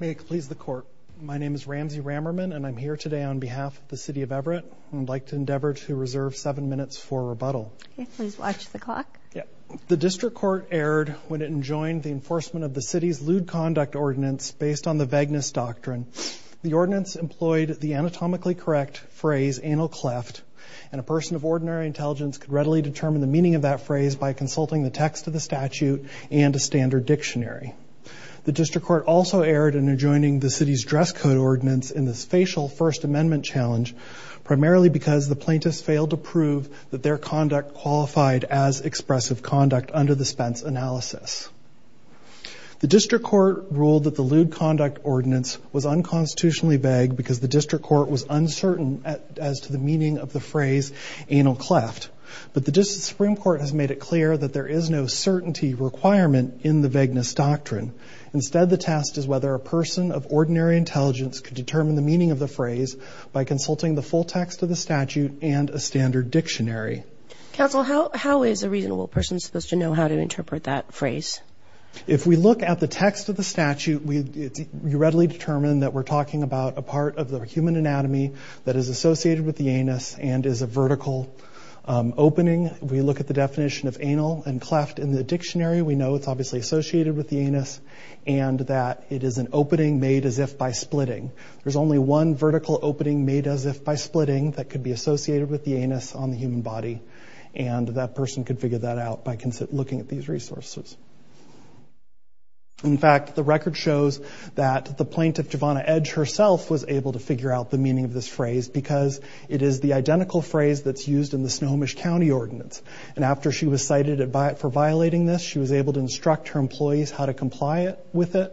May it please the court. My name is Ramsey Rammerman and I'm here today on behalf of the City of Everett and I'd like to endeavor to reserve seven minutes for rebuttal. Please watch the clock. The district court erred when it enjoined the enforcement of the city's lewd conduct ordinance based on the vagueness doctrine. The ordinance employed the anatomically correct phrase anal cleft and a person of ordinary intelligence could readily determine the meaning of that phrase by consulting the text of the statute and a standard dictionary. The district court also erred in adjoining the city's dress code ordinance in this facial First Amendment challenge primarily because the plaintiffs failed to prove that their conduct qualified as expressive conduct under the Spence analysis. The district court ruled that the lewd conduct ordinance was unconstitutionally vague because the district court was uncertain as to the meaning of the phrase anal cleft but the district Supreme Court has Instead the test is whether a person of ordinary intelligence could determine the meaning of the phrase by consulting the full text of the statute and a standard dictionary. Counsel how is a reasonable person supposed to know how to interpret that phrase? If we look at the text of the statute we readily determine that we're talking about a part of the human anatomy that is associated with the anus and is a vertical opening. We look at the definition of anal and cleft in the dictionary we know it's obviously associated with the anus and that it is an opening made as if by splitting. There's only one vertical opening made as if by splitting that could be associated with the anus on the human body and that person could figure that out by looking at these resources. In fact the record shows that the plaintiff Javonna Edge herself was able to figure out the meaning of this phrase because it is the identical phrase that's used in the Snohomish County ordinance and after she was cited for violating this she was able to instruct her employees how to comply with it.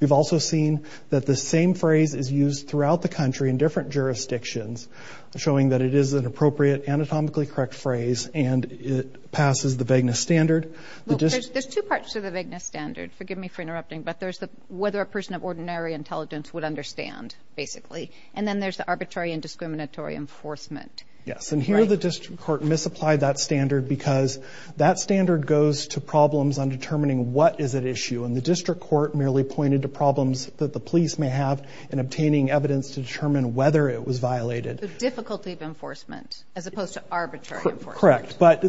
We've also seen that the same phrase is used throughout the country in different jurisdictions showing that it is an appropriate anatomically correct phrase and it passes the vagueness standard. There's two parts to the vagueness standard forgive me for interrupting but there's the whether a person of ordinary intelligence would understand basically and then there's the arbitrary and discriminatory enforcement. Yes and here the district court misapplied that standard because that standard goes to problems on determining what is at issue and the district court merely pointed to problems that the police may have in obtaining evidence to determine whether it was violated. The difficulty of enforcement as opposed to arbitrary. Correct but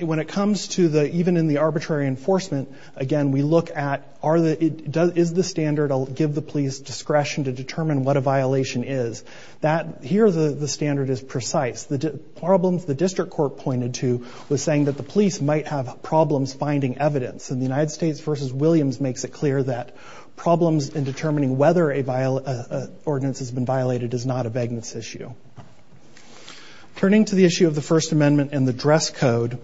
when it comes to the even in the arbitrary enforcement again we look at are the it does is the standard I'll give the police discretion to determine what a violation is that here the standard is precise the problems the district court pointed to was saying that the police might have problems finding evidence in the United States versus Williams makes it clear that problems in determining whether a ordinance has been violated is not a vagueness issue. Turning to the issue of the First Amendment and the dress code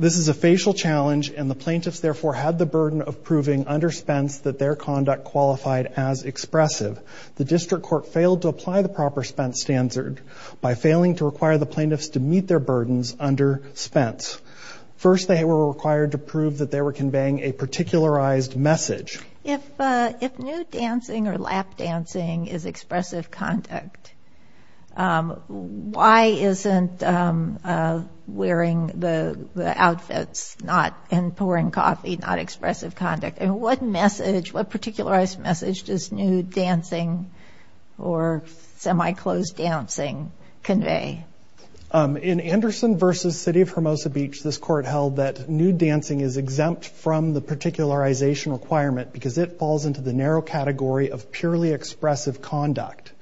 this is a facial challenge and the plaintiffs therefore had the burden of proving under Spence that their conduct qualified as expressive. The district court failed to apply the proper Spence standard by failing to require the plaintiffs to meet their burdens under Spence. First they were required to prove that they were conveying a particularized message. If nude dancing or lap dancing is expressive conduct why isn't wearing the outfits not and pouring coffee not expressive conduct and what message what particularized message does nude dancing or semi closed dancing convey? In Anderson versus City of Hermosa Beach this court held that nude dancing is exempt from the particularization requirement because it falls into the narrow category of purely expressive conduct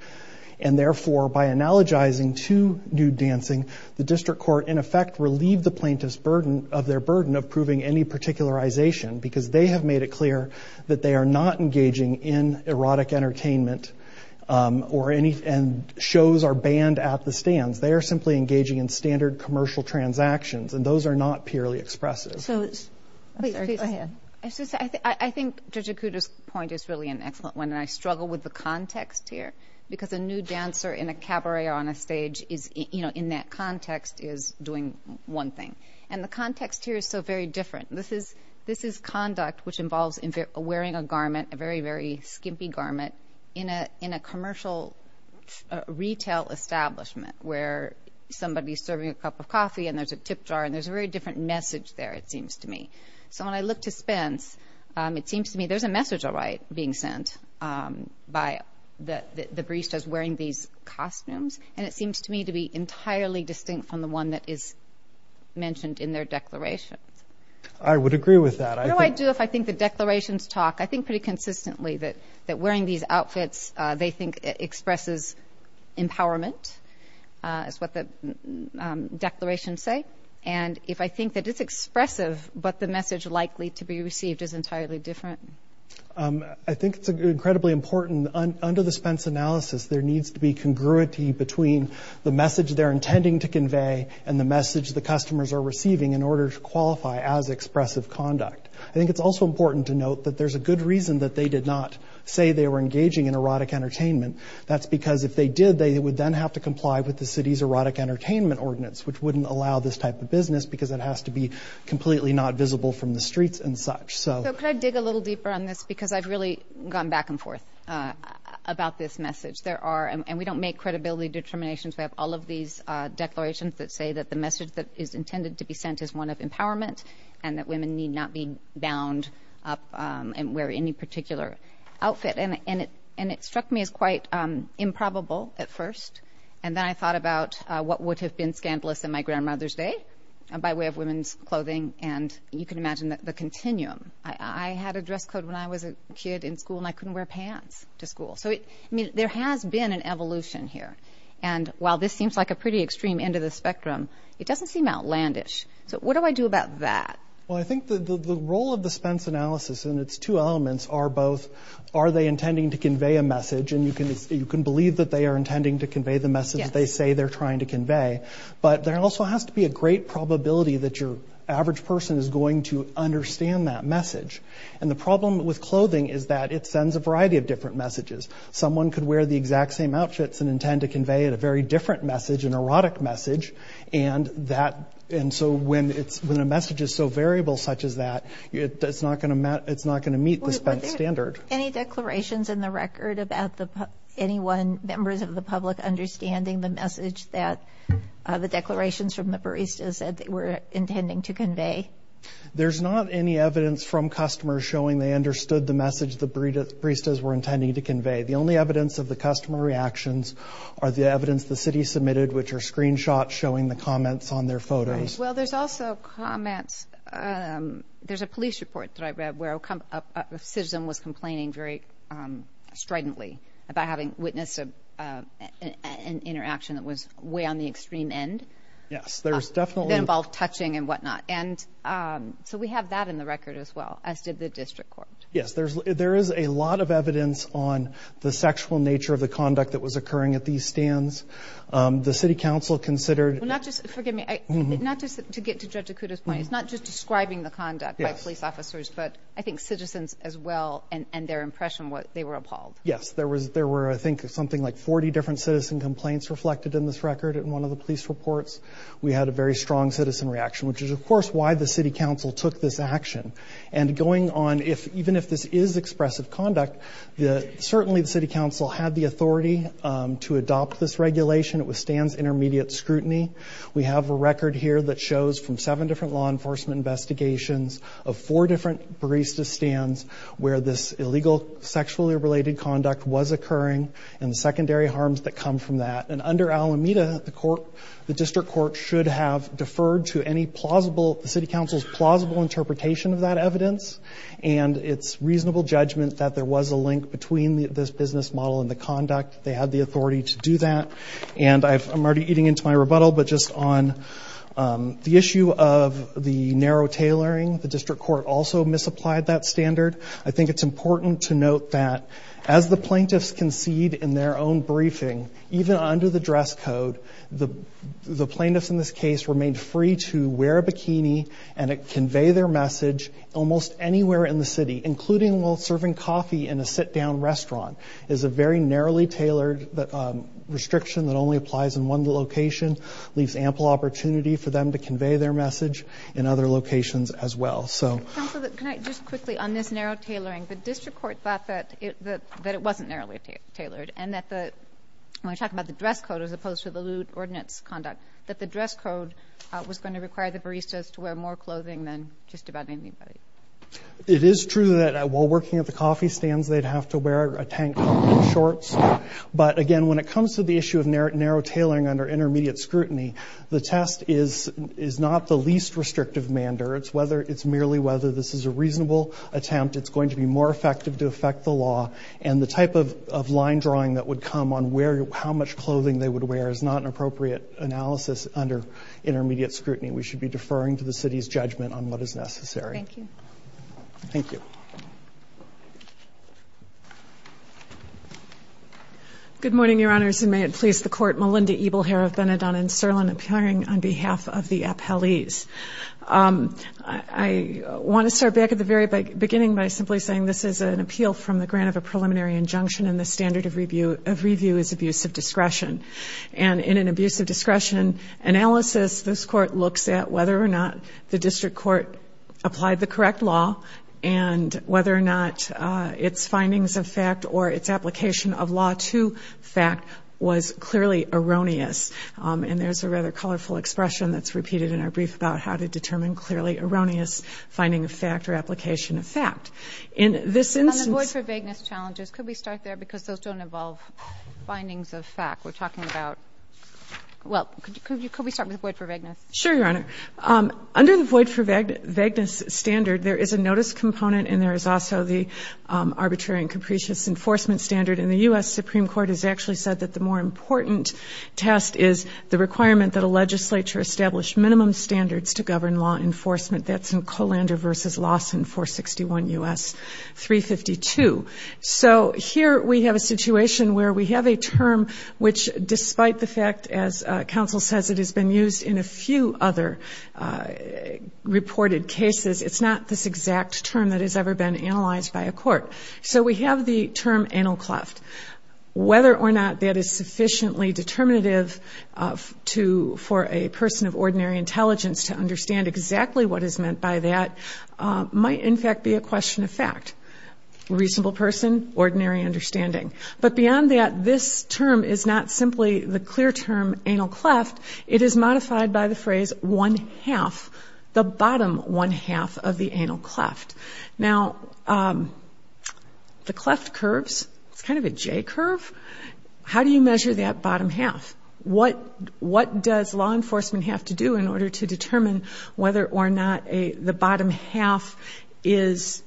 and therefore by analogizing to nude dancing the district court in effect relieved the plaintiffs burden of their burden of proving any particularization because they have made it clear that they are not engaging in erotic entertainment or any and shows are banned at the stands they are simply engaging in standard commercial transactions and those are not purely expressive. I think Judge Okuda's point is really an excellent one and I struggle with the context here because a nude dancer in a cabaret or on a stage is you know in that context is doing one thing and the context here is so very different this is this is conduct which involves in wearing a garment a very skimpy garment in a in a commercial retail establishment where somebody's serving a cup of coffee and there's a tip jar and there's a very different message there it seems to me so when I look to Spence it seems to me there's a message all right being sent by the barista's wearing these costumes and it seems to me to be entirely distinct from the one that is mentioned in their declarations. I would agree with that. I do if I think the declarations talk I think it's incredibly important that wearing these outfits they think expresses empowerment is what the declarations say and if I think that it's expressive but the message likely to be received is entirely different. I think it's incredibly important under the Spence analysis there needs to be congruity between the message they're intending to convey and the message the customers are receiving in order to qualify as expressive conduct. I think it's also important to note that there's a good reason that they did not say they were engaging in erotic entertainment that's because if they did they would then have to comply with the city's erotic entertainment ordinance which wouldn't allow this type of business because it has to be completely not visible from the streets and such. So could I dig a little deeper on this because I've really gone back and forth about this message there are and we don't make credibility determinations we have all of these declarations that say that the message that is intended to be sent is one of and wear any particular outfit and it and it struck me as quite improbable at first and then I thought about what would have been scandalous in my grandmother's day by way of women's clothing and you can imagine that the continuum I had a dress code when I was a kid in school and I couldn't wear pants to school so it I mean there has been an evolution here and while this seems like a pretty extreme end of the spectrum it doesn't seem outlandish so what do I do about that? Well I think the role of the Spence analysis and its two elements are both are they intending to convey a message and you can you can believe that they are intending to convey the message they say they're trying to convey but there also has to be a great probability that your average person is going to understand that message and the problem with clothing is that it sends a variety of different messages someone could wear the exact same outfits and intend to convey it a very different message an erotic message and that and so when it's when a message is so variable such as that it does not going to matter it's not going to meet the standard. Any declarations in the record about the anyone members of the public understanding the message that the declarations from the baristas that they were intending to convey? There's not any evidence from customers showing they understood the message the baristas were intending to convey the only evidence of the customer reactions are the evidence the city submitted which are screenshots showing the comments on their photos. Well there's also comments there's a police report that I read where a citizen was complaining very stridently about having witness of an interaction that was way on the extreme end. Yes there's definitely involved touching and whatnot and so we have that in the record as well as did the district court. Yes there's there is a lot of evidence on the sexual nature of the conduct that was occurring at these stands. The City Council considered not just forgive me not just to get to judge Dakota's point it's not just describing the conduct by police officers but I think citizens as well and and their impression what they were appalled. Yes there was there were I think something like 40 different citizen complaints reflected in this record in one of the police reports. We had a very strong citizen reaction which is of course why the City Council took this action and going on if even if this is expressive conduct the certainly the City Council had the authority to adopt this regulation it withstands intermediate scrutiny. We have a record here that shows from seven different law enforcement investigations of four different barista stands where this illegal sexually related conduct was occurring and the secondary harms that come from that and under Alameda the court the district court should have deferred to any plausible the City judgment that there was a link between this business model and the conduct they had the authority to do that and I'm already eating into my rebuttal but just on the issue of the narrow tailoring the district court also misapplied that standard. I think it's important to note that as the plaintiffs concede in their own briefing even under the dress code the the plaintiffs in this case remained free to wear a bikini and it convey their message almost anywhere in the city including while serving coffee in a sit-down restaurant is a very narrowly tailored that restriction that only applies in one location leaves ample opportunity for them to convey their message in other locations as well so can I just quickly on this narrow tailoring the district court thought that it that it wasn't narrowly tailored and that the when I talk about the dress code as opposed to the lewd ordinance conduct that the dress code was going to require the baristas to wear more clothing than just about it is true that while working at the coffee stands they'd have to wear a tank shorts but again when it comes to the issue of narrow tailoring under intermediate scrutiny the test is is not the least restrictive mander it's whether it's merely whether this is a reasonable attempt it's going to be more effective to affect the law and the type of line drawing that would come on where how much clothing they would wear is not an appropriate analysis under intermediate scrutiny we should be deferring to the city's judgment on what is necessary thank you thank you good morning your honors and may it please the court Melinda evil hair of Benidorm and Sirlin appearing on behalf of the appellees I want to start back at the very beginning by simply saying this is an appeal from the grant of a preliminary injunction and the standard of review of review is abuse of discretion and in an abuse of discretion analysis this court looks at whether or not the district court applied the correct law and whether or not its findings of fact or its application of law to fact was clearly erroneous and there's a rather colorful expression that's repeated in our brief about how to determine clearly erroneous finding a factor application of fact in this instance for vagueness challenges could we start there because those don't involve findings of fact we're under the void for vagueness standard there is a notice component and there is also the arbitrary and capricious enforcement standard in the u.s. Supreme Court has actually said that the more important test is the requirement that a legislature established minimum standards to govern law enforcement that's in colander versus Lawson 461 u.s. 352 so here we have a situation where we have a term which despite the fact as counsel says it has been used in a few other reported cases it's not this exact term that has ever been analyzed by a court so we have the term anal cleft whether or not that is sufficiently determinative to for a person of ordinary intelligence to understand exactly what is meant by that might in fact be a question of fact reasonable person ordinary understanding but beyond that this term is not simply the clear term anal cleft it is modified by the phrase one half the bottom one half of the anal cleft now the cleft curves it's kind of a J curve how do you measure that bottom half what what does law enforcement have to do in order to determine whether or not a the bottom half is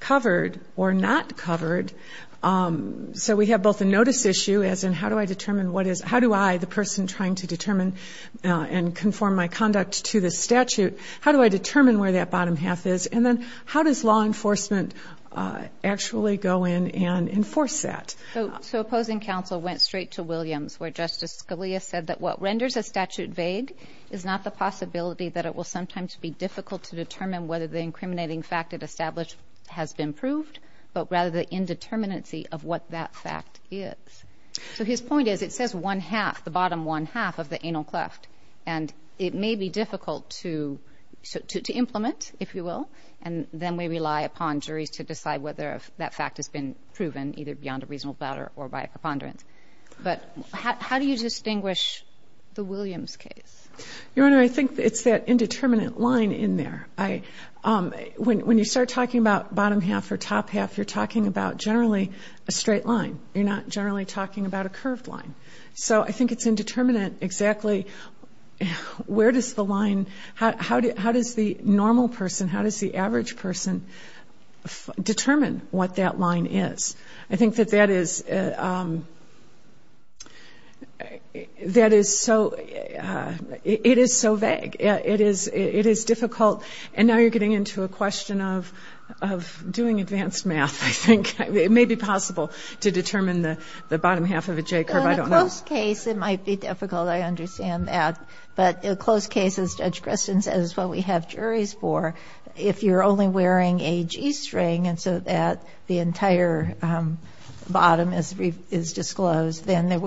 covered or not covered so we have both a notice issue as in how do I determine what is how do I the person trying to determine and conform my conduct to the statute how do I determine where that bottom half is and then how does law enforcement actually go in and enforce that so opposing counsel went straight to Williams where Justice Scalia said that what renders a statute vague is not the possibility that it will sometimes be difficult to determine whether the incriminating fact it established has been proved but rather the indeterminacy of what that fact is so his point is it says one half the bottom one half of the anal cleft and it may be difficult to to implement if you will and then we rely upon juries to decide whether that fact has been proven either beyond a reasonable doubt or by a preponderance but how do you distinguish the Williams case your honor I think it's that indeterminate line in there I when you start talking about bottom half or top half you're talking about generally a straight line you're not generally talking about a curved line so I think it's indeterminate exactly where does the line how did how does the normal person how does the average person determine what that line is I think that that is that is so it is so vague it is it is difficult and now you're getting into a question of of doing advanced math I think it may be possible to determine the bottom half of a j-curve I don't know case it might be difficult I understand that but a close case as Judge Gristin says what we have juries for if you're only wearing a g-string and so that the entire bottom is disclosed then there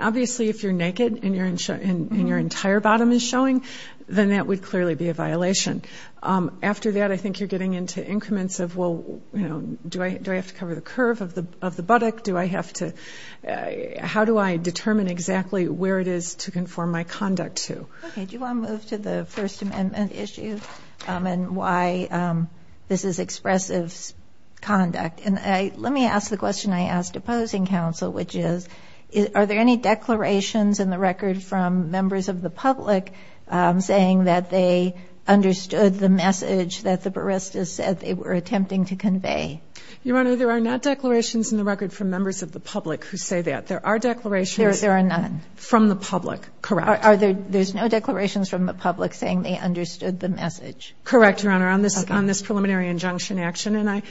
obviously if you're naked and you're in show in your entire bottom is showing then that would clearly be a violation after that I think you're getting into increments of well you know do I do I have to cover the curve of the of the buttock do I have to how do I determine exactly where it is to cover the bottom do you want to move to the First Amendment issue and why this is expressive conduct and I let me ask the question I asked opposing counsel which is is are there any declarations in the record from members of the public saying that they understood the message that the baristas said they were attempting to convey your honor there are not declarations in the record from members of the public who say that there are declarations there are none from the public correct are there there's no declarations from the public saying they understood the message correct your honor on this on this preliminary injunction action and I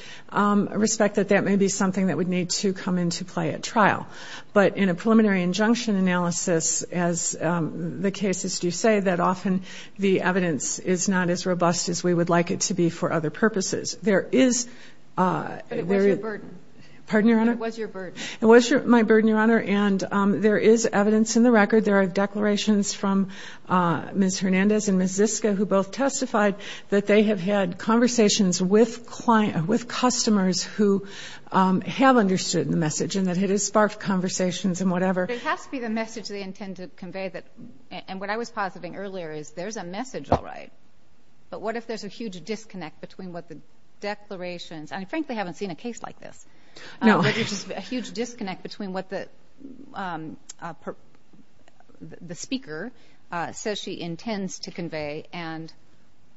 respect that that may be something that would need to come into play at trial but in a preliminary injunction analysis as the cases do say that often the evidence is not as robust as we would like it to be for other purposes there is a very burden pardon your honor it was your bird it was your my bird your honor and there is evidence in the record there are declarations from Miss Hernandez and Miss Iska who both testified that they have had conversations with client with customers who have understood the message and that it has sparked conversations and whatever it has to be the message they intend to convey that and what I was positing earlier is there's a message all right but what if there's a huge disconnect between what the declarations and frankly haven't seen a case like this no there's just a huge disconnect between what the the speaker says she intends to convey and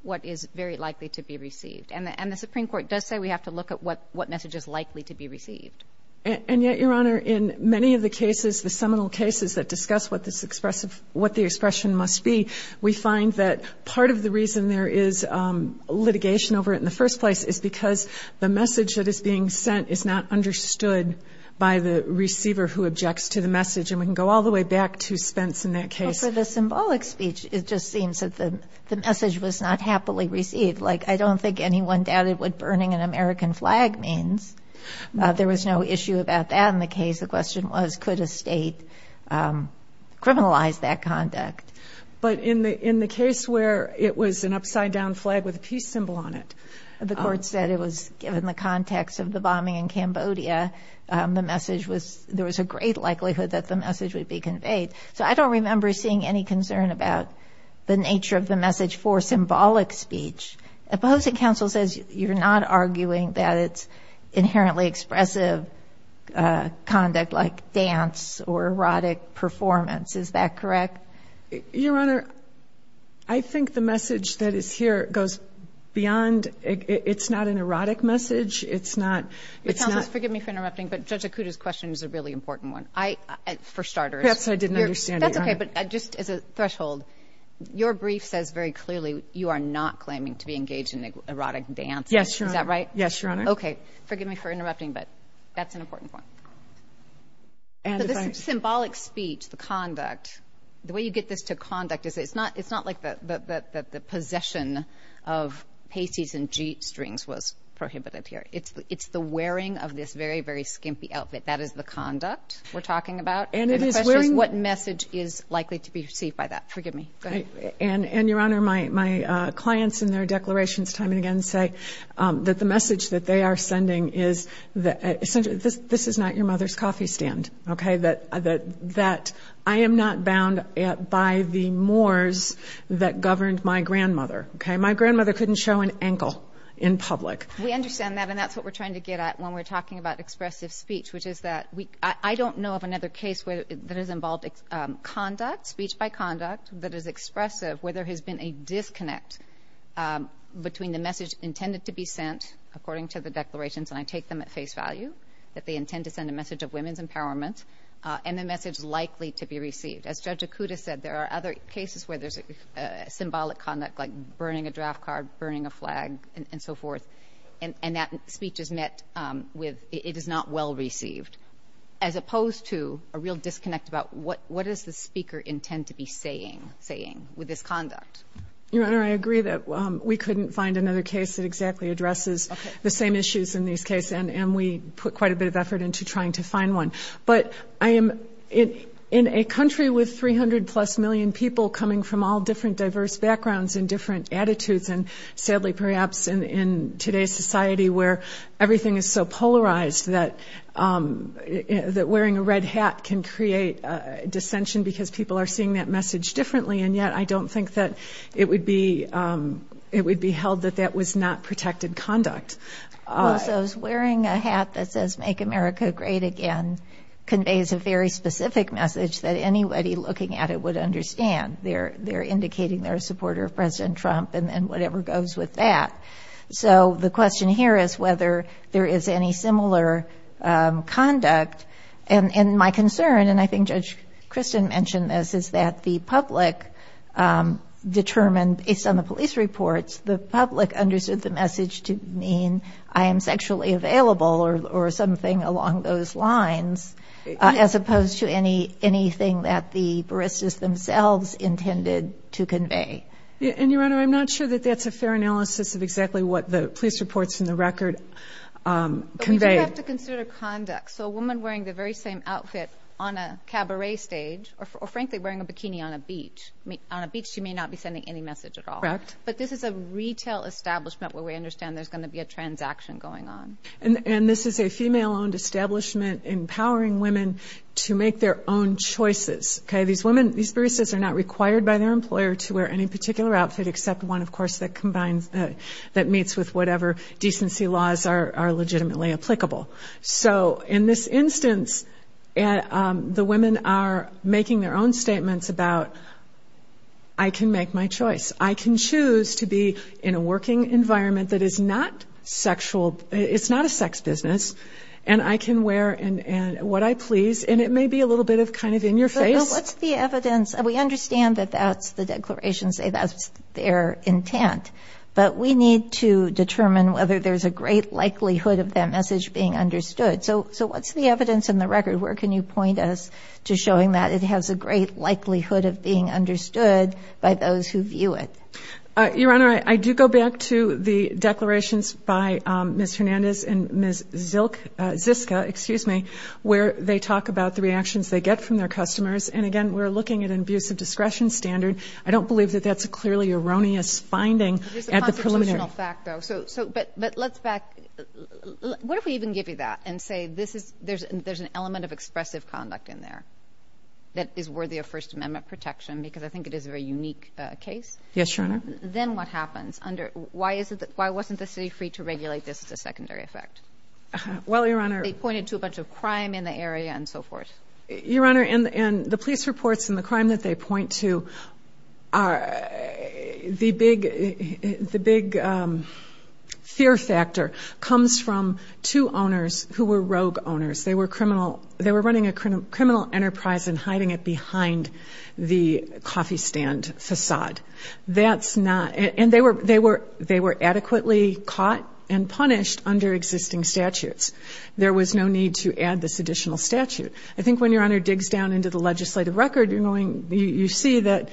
what is very likely to be received and the and the Supreme Court does say we have to look at what what message is likely to be received and yet your honor in many of the cases the seminal cases that discuss what this expressive what the expression must be we find that part of the reason there is litigation over it in the first place is because the message that is being sent is not understood by the receiver who objects to the message and we can go all the way back to Spence in that case for the symbolic speech it just seems that the message was not happily received like I don't think anyone doubted what burning an American flag means there was no issue about that in the case the question was could a state criminalize that conduct but in the case where it was an upside down flag with a peace symbol on it the court said it was given the context of the bombing in Cambodia the message was there was a great likelihood that the message would be conveyed so I don't remember seeing any concern about the nature of the message for symbolic speech opposing counsel says you're not arguing that it's inherently expressive conduct like dance or erotic performance is that correct your honor I think the message that is here goes beyond it's not an erotic message it's not it's not forgive me for interrupting but judge Akuta's question is a really important one I for starters I didn't understand okay but just as a threshold your brief says very clearly you are not claiming to be engaged in erotic dance yes sure that right yes your interrupting but that's an important point and this is symbolic speech the conduct the way you get this to conduct is it's not it's not like that that the possession of pasties and g-strings was prohibited here it's it's the wearing of this very very skimpy outfit that is the conduct we're talking about and it is wearing what message is likely to be received by that forgive me and and your honor my my clients in their declarations time and again say that the message that they are sending is that essentially this this is not your mother's coffee stand okay that that that I am not bound by the moors that governed my grandmother okay my grandmother couldn't show an ankle in public we understand that and that's what we're trying to get at when we're talking about expressive speech which is that week I don't know of another case where that is involved conduct speech by conduct that is expressive where there has been a I take them at face value that they intend to send a message of women's empowerment and the message likely to be received as judge akuta said there are other cases where there's a symbolic conduct like burning a draft card burning a flag and so forth and and that speech is met with it is not well received as opposed to a real disconnect about what what is the speaker intend to be saying saying with this conduct your honor I agree that we couldn't find another case that exactly addresses the same issues in these case and and we put quite a bit of effort into trying to find one but I am in in a country with 300 plus million people coming from all different diverse backgrounds and different attitudes and sadly perhaps in in today's society where everything is so polarized that that wearing a red hat can create dissension because people are seeing that message differently and yet I don't think that it would be it would be held that that was not protected conduct I was wearing a hat that says make America great again conveys a very specific message that anybody looking at it would understand they're they're indicating their supporter of President Trump and then whatever goes with that so the question here is whether there is any similar conduct and in my concern and I think Judge Kristen mentioned this is that the public determined based on the police reports the public understood the message to mean I am sexually available or something along those lines as opposed to any anything that the baristas themselves intended to convey and your honor I'm not sure that that's a fair analysis of exactly what the police reports in the record convey to consider conduct so a woman wearing the very same outfit on a cabaret stage or frankly wearing a bikini on a beach meet on a beach you may not be sending any message at all but this is a retail establishment where we understand there's going to be a transaction going on and this is a female-owned establishment empowering women to make their own choices okay these women these baristas are not required by their employer to wear any particular outfit except one of course that combines that meets with whatever decency laws are legitimately applicable so in this instance and the women are making their own statements about I can make my choice I can choose to be in a working environment that is not sexual it's not a sex business and I can wear and what I please and it may be a little bit of kind of in your face what's the evidence we understand that that's the declaration say that's their intent but we need to determine whether there's a great likelihood of that message being understood so so what's the evidence in the record where can you point us to showing that it has a great likelihood of being understood by those who view it your honor I do go back to the declarations by Miss Hernandez and Miss Zilk Ziska excuse me where they talk about the reactions they get from their customers and again we're looking at an abuse of discretion standard I don't believe that that's a clearly erroneous finding at the preliminary factor so so but but let's back what if we even give you that and say this is there's there's an element of expressive conduct in there that is worthy of First Amendment protection because I think it is a very unique case yes your honor then what happens under why is it that why wasn't the city free to regulate this as a secondary effect well your honor they pointed to a bunch of crime in the area and so forth your honor and the police reports in the crime that they point to are the big the big fear factor comes from two owners who were rogue owners they were criminal they were running a criminal enterprise and hiding it behind the coffee stand facade that's not and they were they were they were adequately caught and punished under existing statutes there was no need to add this additional statute I think when your honor digs down into the legislative record you're going you see that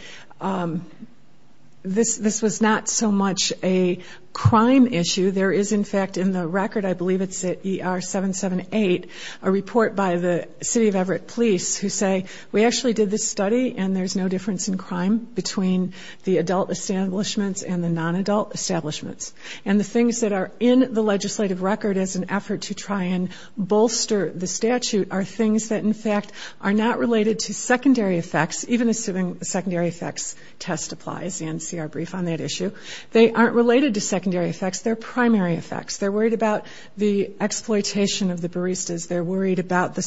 this this was not so much a crime issue there is in fact in the record I believe it's at er 778 a report by the city of Everett police who say we actually did this study and there's no difference in crime between the adult establishments and the non-adult establishments and the things that are in the legislative record as an effort to try and bolster the statute are things that in fact are not related to secondary effects even assuming the secondary effects test applies and see our brief on that issue they aren't related to secondary effects their primary effects they're worried about the exploitation of the baristas they're worried about the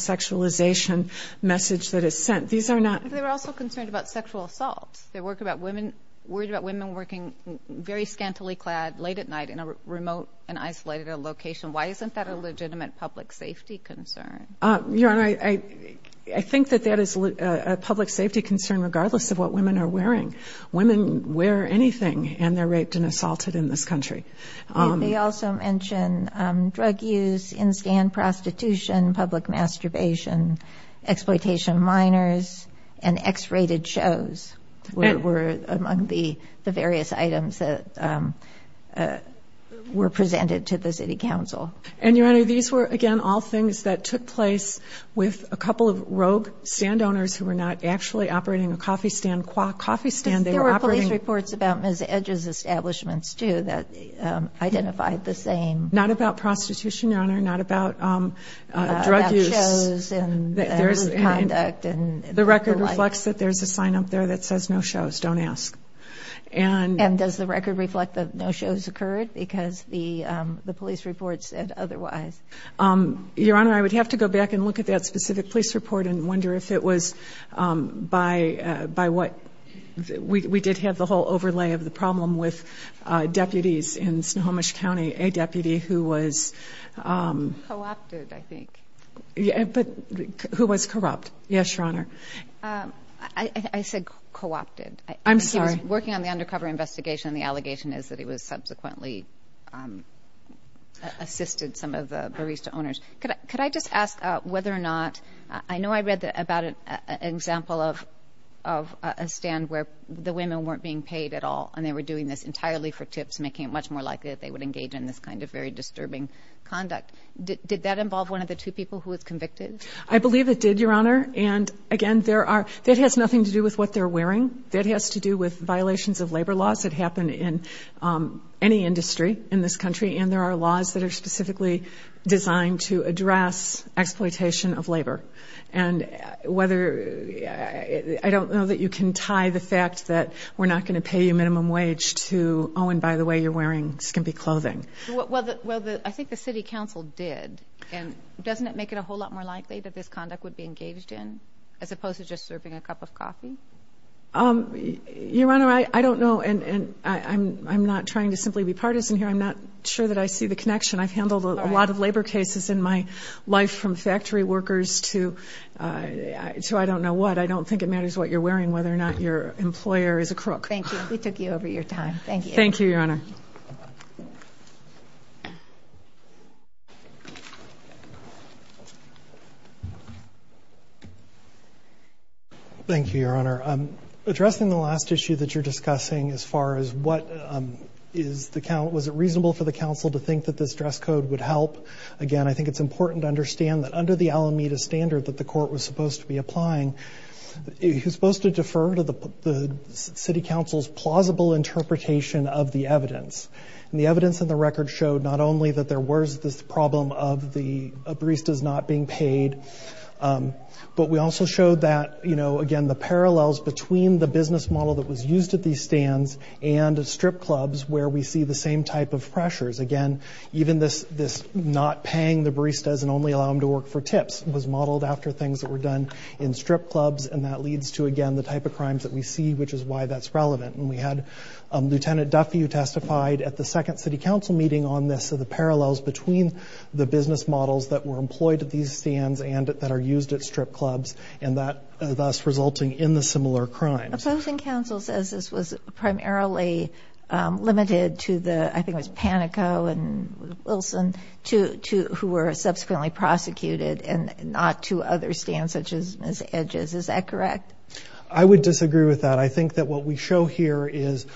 women worried about women working very scantily clad late at night in a remote and isolated location why isn't that a legitimate public safety concern your honor I I think that that is a public safety concern regardless of what women are wearing women wear anything and they're raped and assaulted in this country they also mention drug use in stand prostitution public masturbation exploitation minors and x-rated shows we're we're we're we're we're we're among the the various items that we're presented to the city council and you have these we're again all things that took place with a couple of rogue stand owners who are not actually operating a coffee stand qua coffee stand there were police reports about Josh's establishment's to that identified the same not about prostitution on or not about drug use and that there is a mapped and the record reflects that there's a sign up there that says no shows don't ask and and does the record reflect that no shows occurred because the the police reports and otherwise your honor I would have to go back and look at that specific police report and wonder if it was by by what we did have the whole overlay of the problem with deputies in Snohomish County a deputy who was co-opted I think yeah but who was corrupt yes your honor I said co-opted I'm sorry working on the undercover investigation the allegation is that he was subsequently assisted some of the barista owners could I could I just ask whether or not I know I read that about an example of of a stand where the women weren't being paid at all and they were doing this entirely for tips making it much more likely that they would engage in this kind of very disturbing conduct did that involve one of the two people who was convicted I believe it did your honor and again there are that has nothing to do with what they're wearing that has to do with violations of labor laws that happen in any industry in this country and there are laws that are specifically designed to address exploitation of labor and whether I don't know that you can tie the fact that we're not going to pay a minimum wage to oh and by the way you're wearing skimpy clothing well I think the city council did and doesn't it make it a whole lot more likely that this conduct would be engaged in as opposed to just serving a cup of coffee your honor I don't know and I'm not trying to simply be partisan here I'm not sure that I see the connection I've handled a lot of labor cases in my life from factory workers to so I don't know what I don't thank you we took you over your time thank you Thank you your honor thank you your honor addressing the last issue that you're discussing as far as what is the count was it reasonable for the council to think that this dress code would help again I think it's important to understand that under the Alameda standard that the court was supposed to be applying he's supposed to defer to the City Council's plausible interpretation of the evidence and the evidence in the record showed not only that there was this problem of the baristas not being paid but we also showed that you know again the parallels between the business model that was used at these stands and strip clubs where we see the same type of pressures again even this this not paying the baristas and only allow them to work for tips was modeled after things that were done in strip clubs and that leads to again the type of crimes that we see which is why that's relevant and we had a lieutenant Duffy who testified at the second City Council meeting on this so the parallels between the business models that were employed at these stands and that are used at strip clubs and that thus resulting in the similar crimes I think council says this was primarily limited to the I think was Panico and Wilson to who were subsequently prosecuted and not to other stands such as Ms. Edges is that correct I would disagree with that I think that what we show here is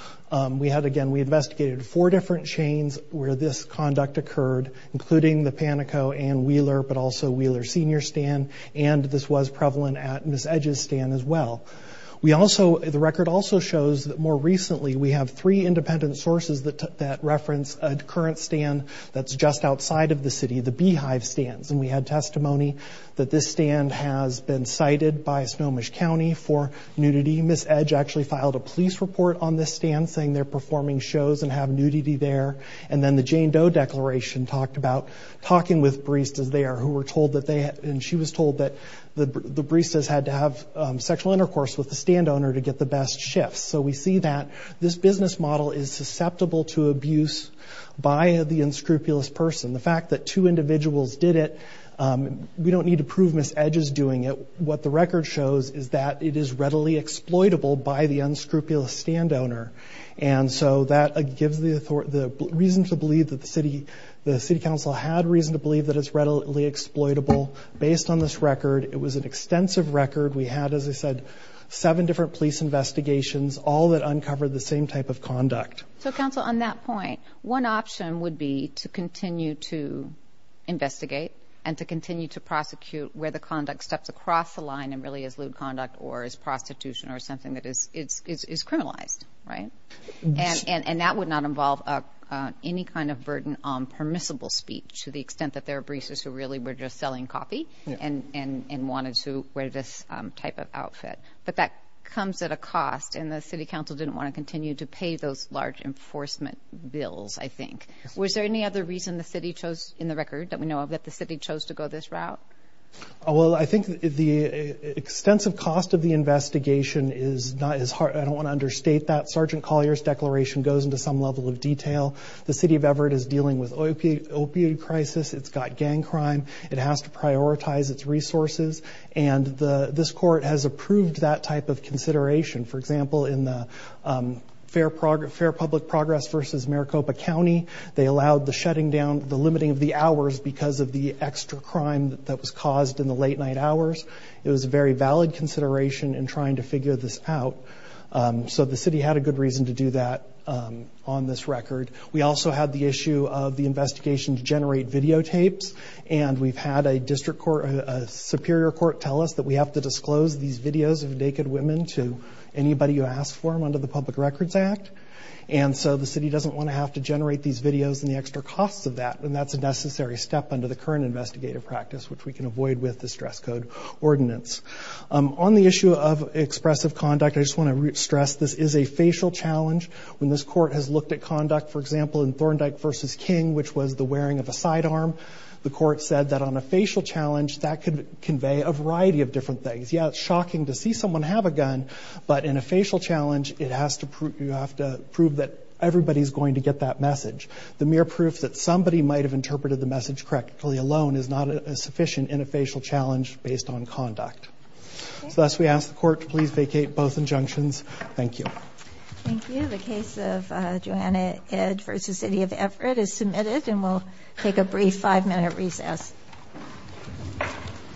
we had again we investigated four different chains where this conduct occurred including the Panico and Wheeler but also Wheeler senior stand and this was prevalent at Ms. Edges stand as well we also the record also shows that more recently we have three independent sources that reference a current stand that's just outside of the city the Beehive stands and we had testimony that this stand has been cited by Snohomish County for nudity Ms. Edge actually filed a police report on this stand saying they're performing shows and have nudity there and then the Jane Doe declaration talked about talking with baristas there who were told that they and she was told that the baristas had to have sexual intercourse with the stand owner to get the best shifts so we see that this business model is susceptible to abuse by the unscrupulous person the fact that two individuals did it we don't need to prove Ms. Edges doing it what the record shows is that it is readily exploitable by the unscrupulous stand owner and so that gives the reason to believe that the city the city council had reason to believe that it's readily exploitable based on this record it was an extensive record we had as I said seven different police investigations all that uncovered the same type of conduct so council on that point one option would be to continue to investigate and to continue to prosecute where the conduct steps across the line and really is lewd conduct or is prostitution or something that is it's is criminalized right and and and that would not involve any kind of burden on permissible speech to the extent that there are baristas who really were just selling coffee and wanted to wear this type of outfit but that comes at a cost and the city council didn't want to continue to pay those large enforcement bills I think was there any other reason the city chose in the record that we know of that the city chose to go this route oh well I think the extensive cost of the investigation is not as hard I don't want to understate that sergeant Collier's declaration goes into some level of detail the city of Everett is dealing with opioid opioid crisis it's got gang crime it has to prioritize its resources and the this court has approved that type of consideration for example in the fair progress public progress versus Maricopa County they allowed the shutting down the limiting of the hours because of the extra crime that was caused in the late night hours it was a very valid consideration and trying to figure this out so the city had a good reason to do that on this record we also had the issue of the investigation to generate videotape and we've had a district court a superior court tell us that we have to disclose these videos of naked women to anybody you ask for them under the public records act and so the city doesn't want to have to generate these videos and the extra costs of that and that's a necessary step under the current investigative practice which we can avoid with the stress code ordinance on the issue of expressive conduct I just want to stress this is a facial challenge when this court has looked at conduct for example in Thorndike versus King which was the wearing of a sidearm the court said that on a facial challenge that could convey a variety of different things yeah it's shocking to see someone have a gun but in a facial challenge it has to prove you have to prove that everybody's going to get that message the mere proof that somebody might have interpreted the message correctly alone is not a sufficient in a facial challenge based on conduct so as we asked the court to please vacate both injunctions thank you. Thank you.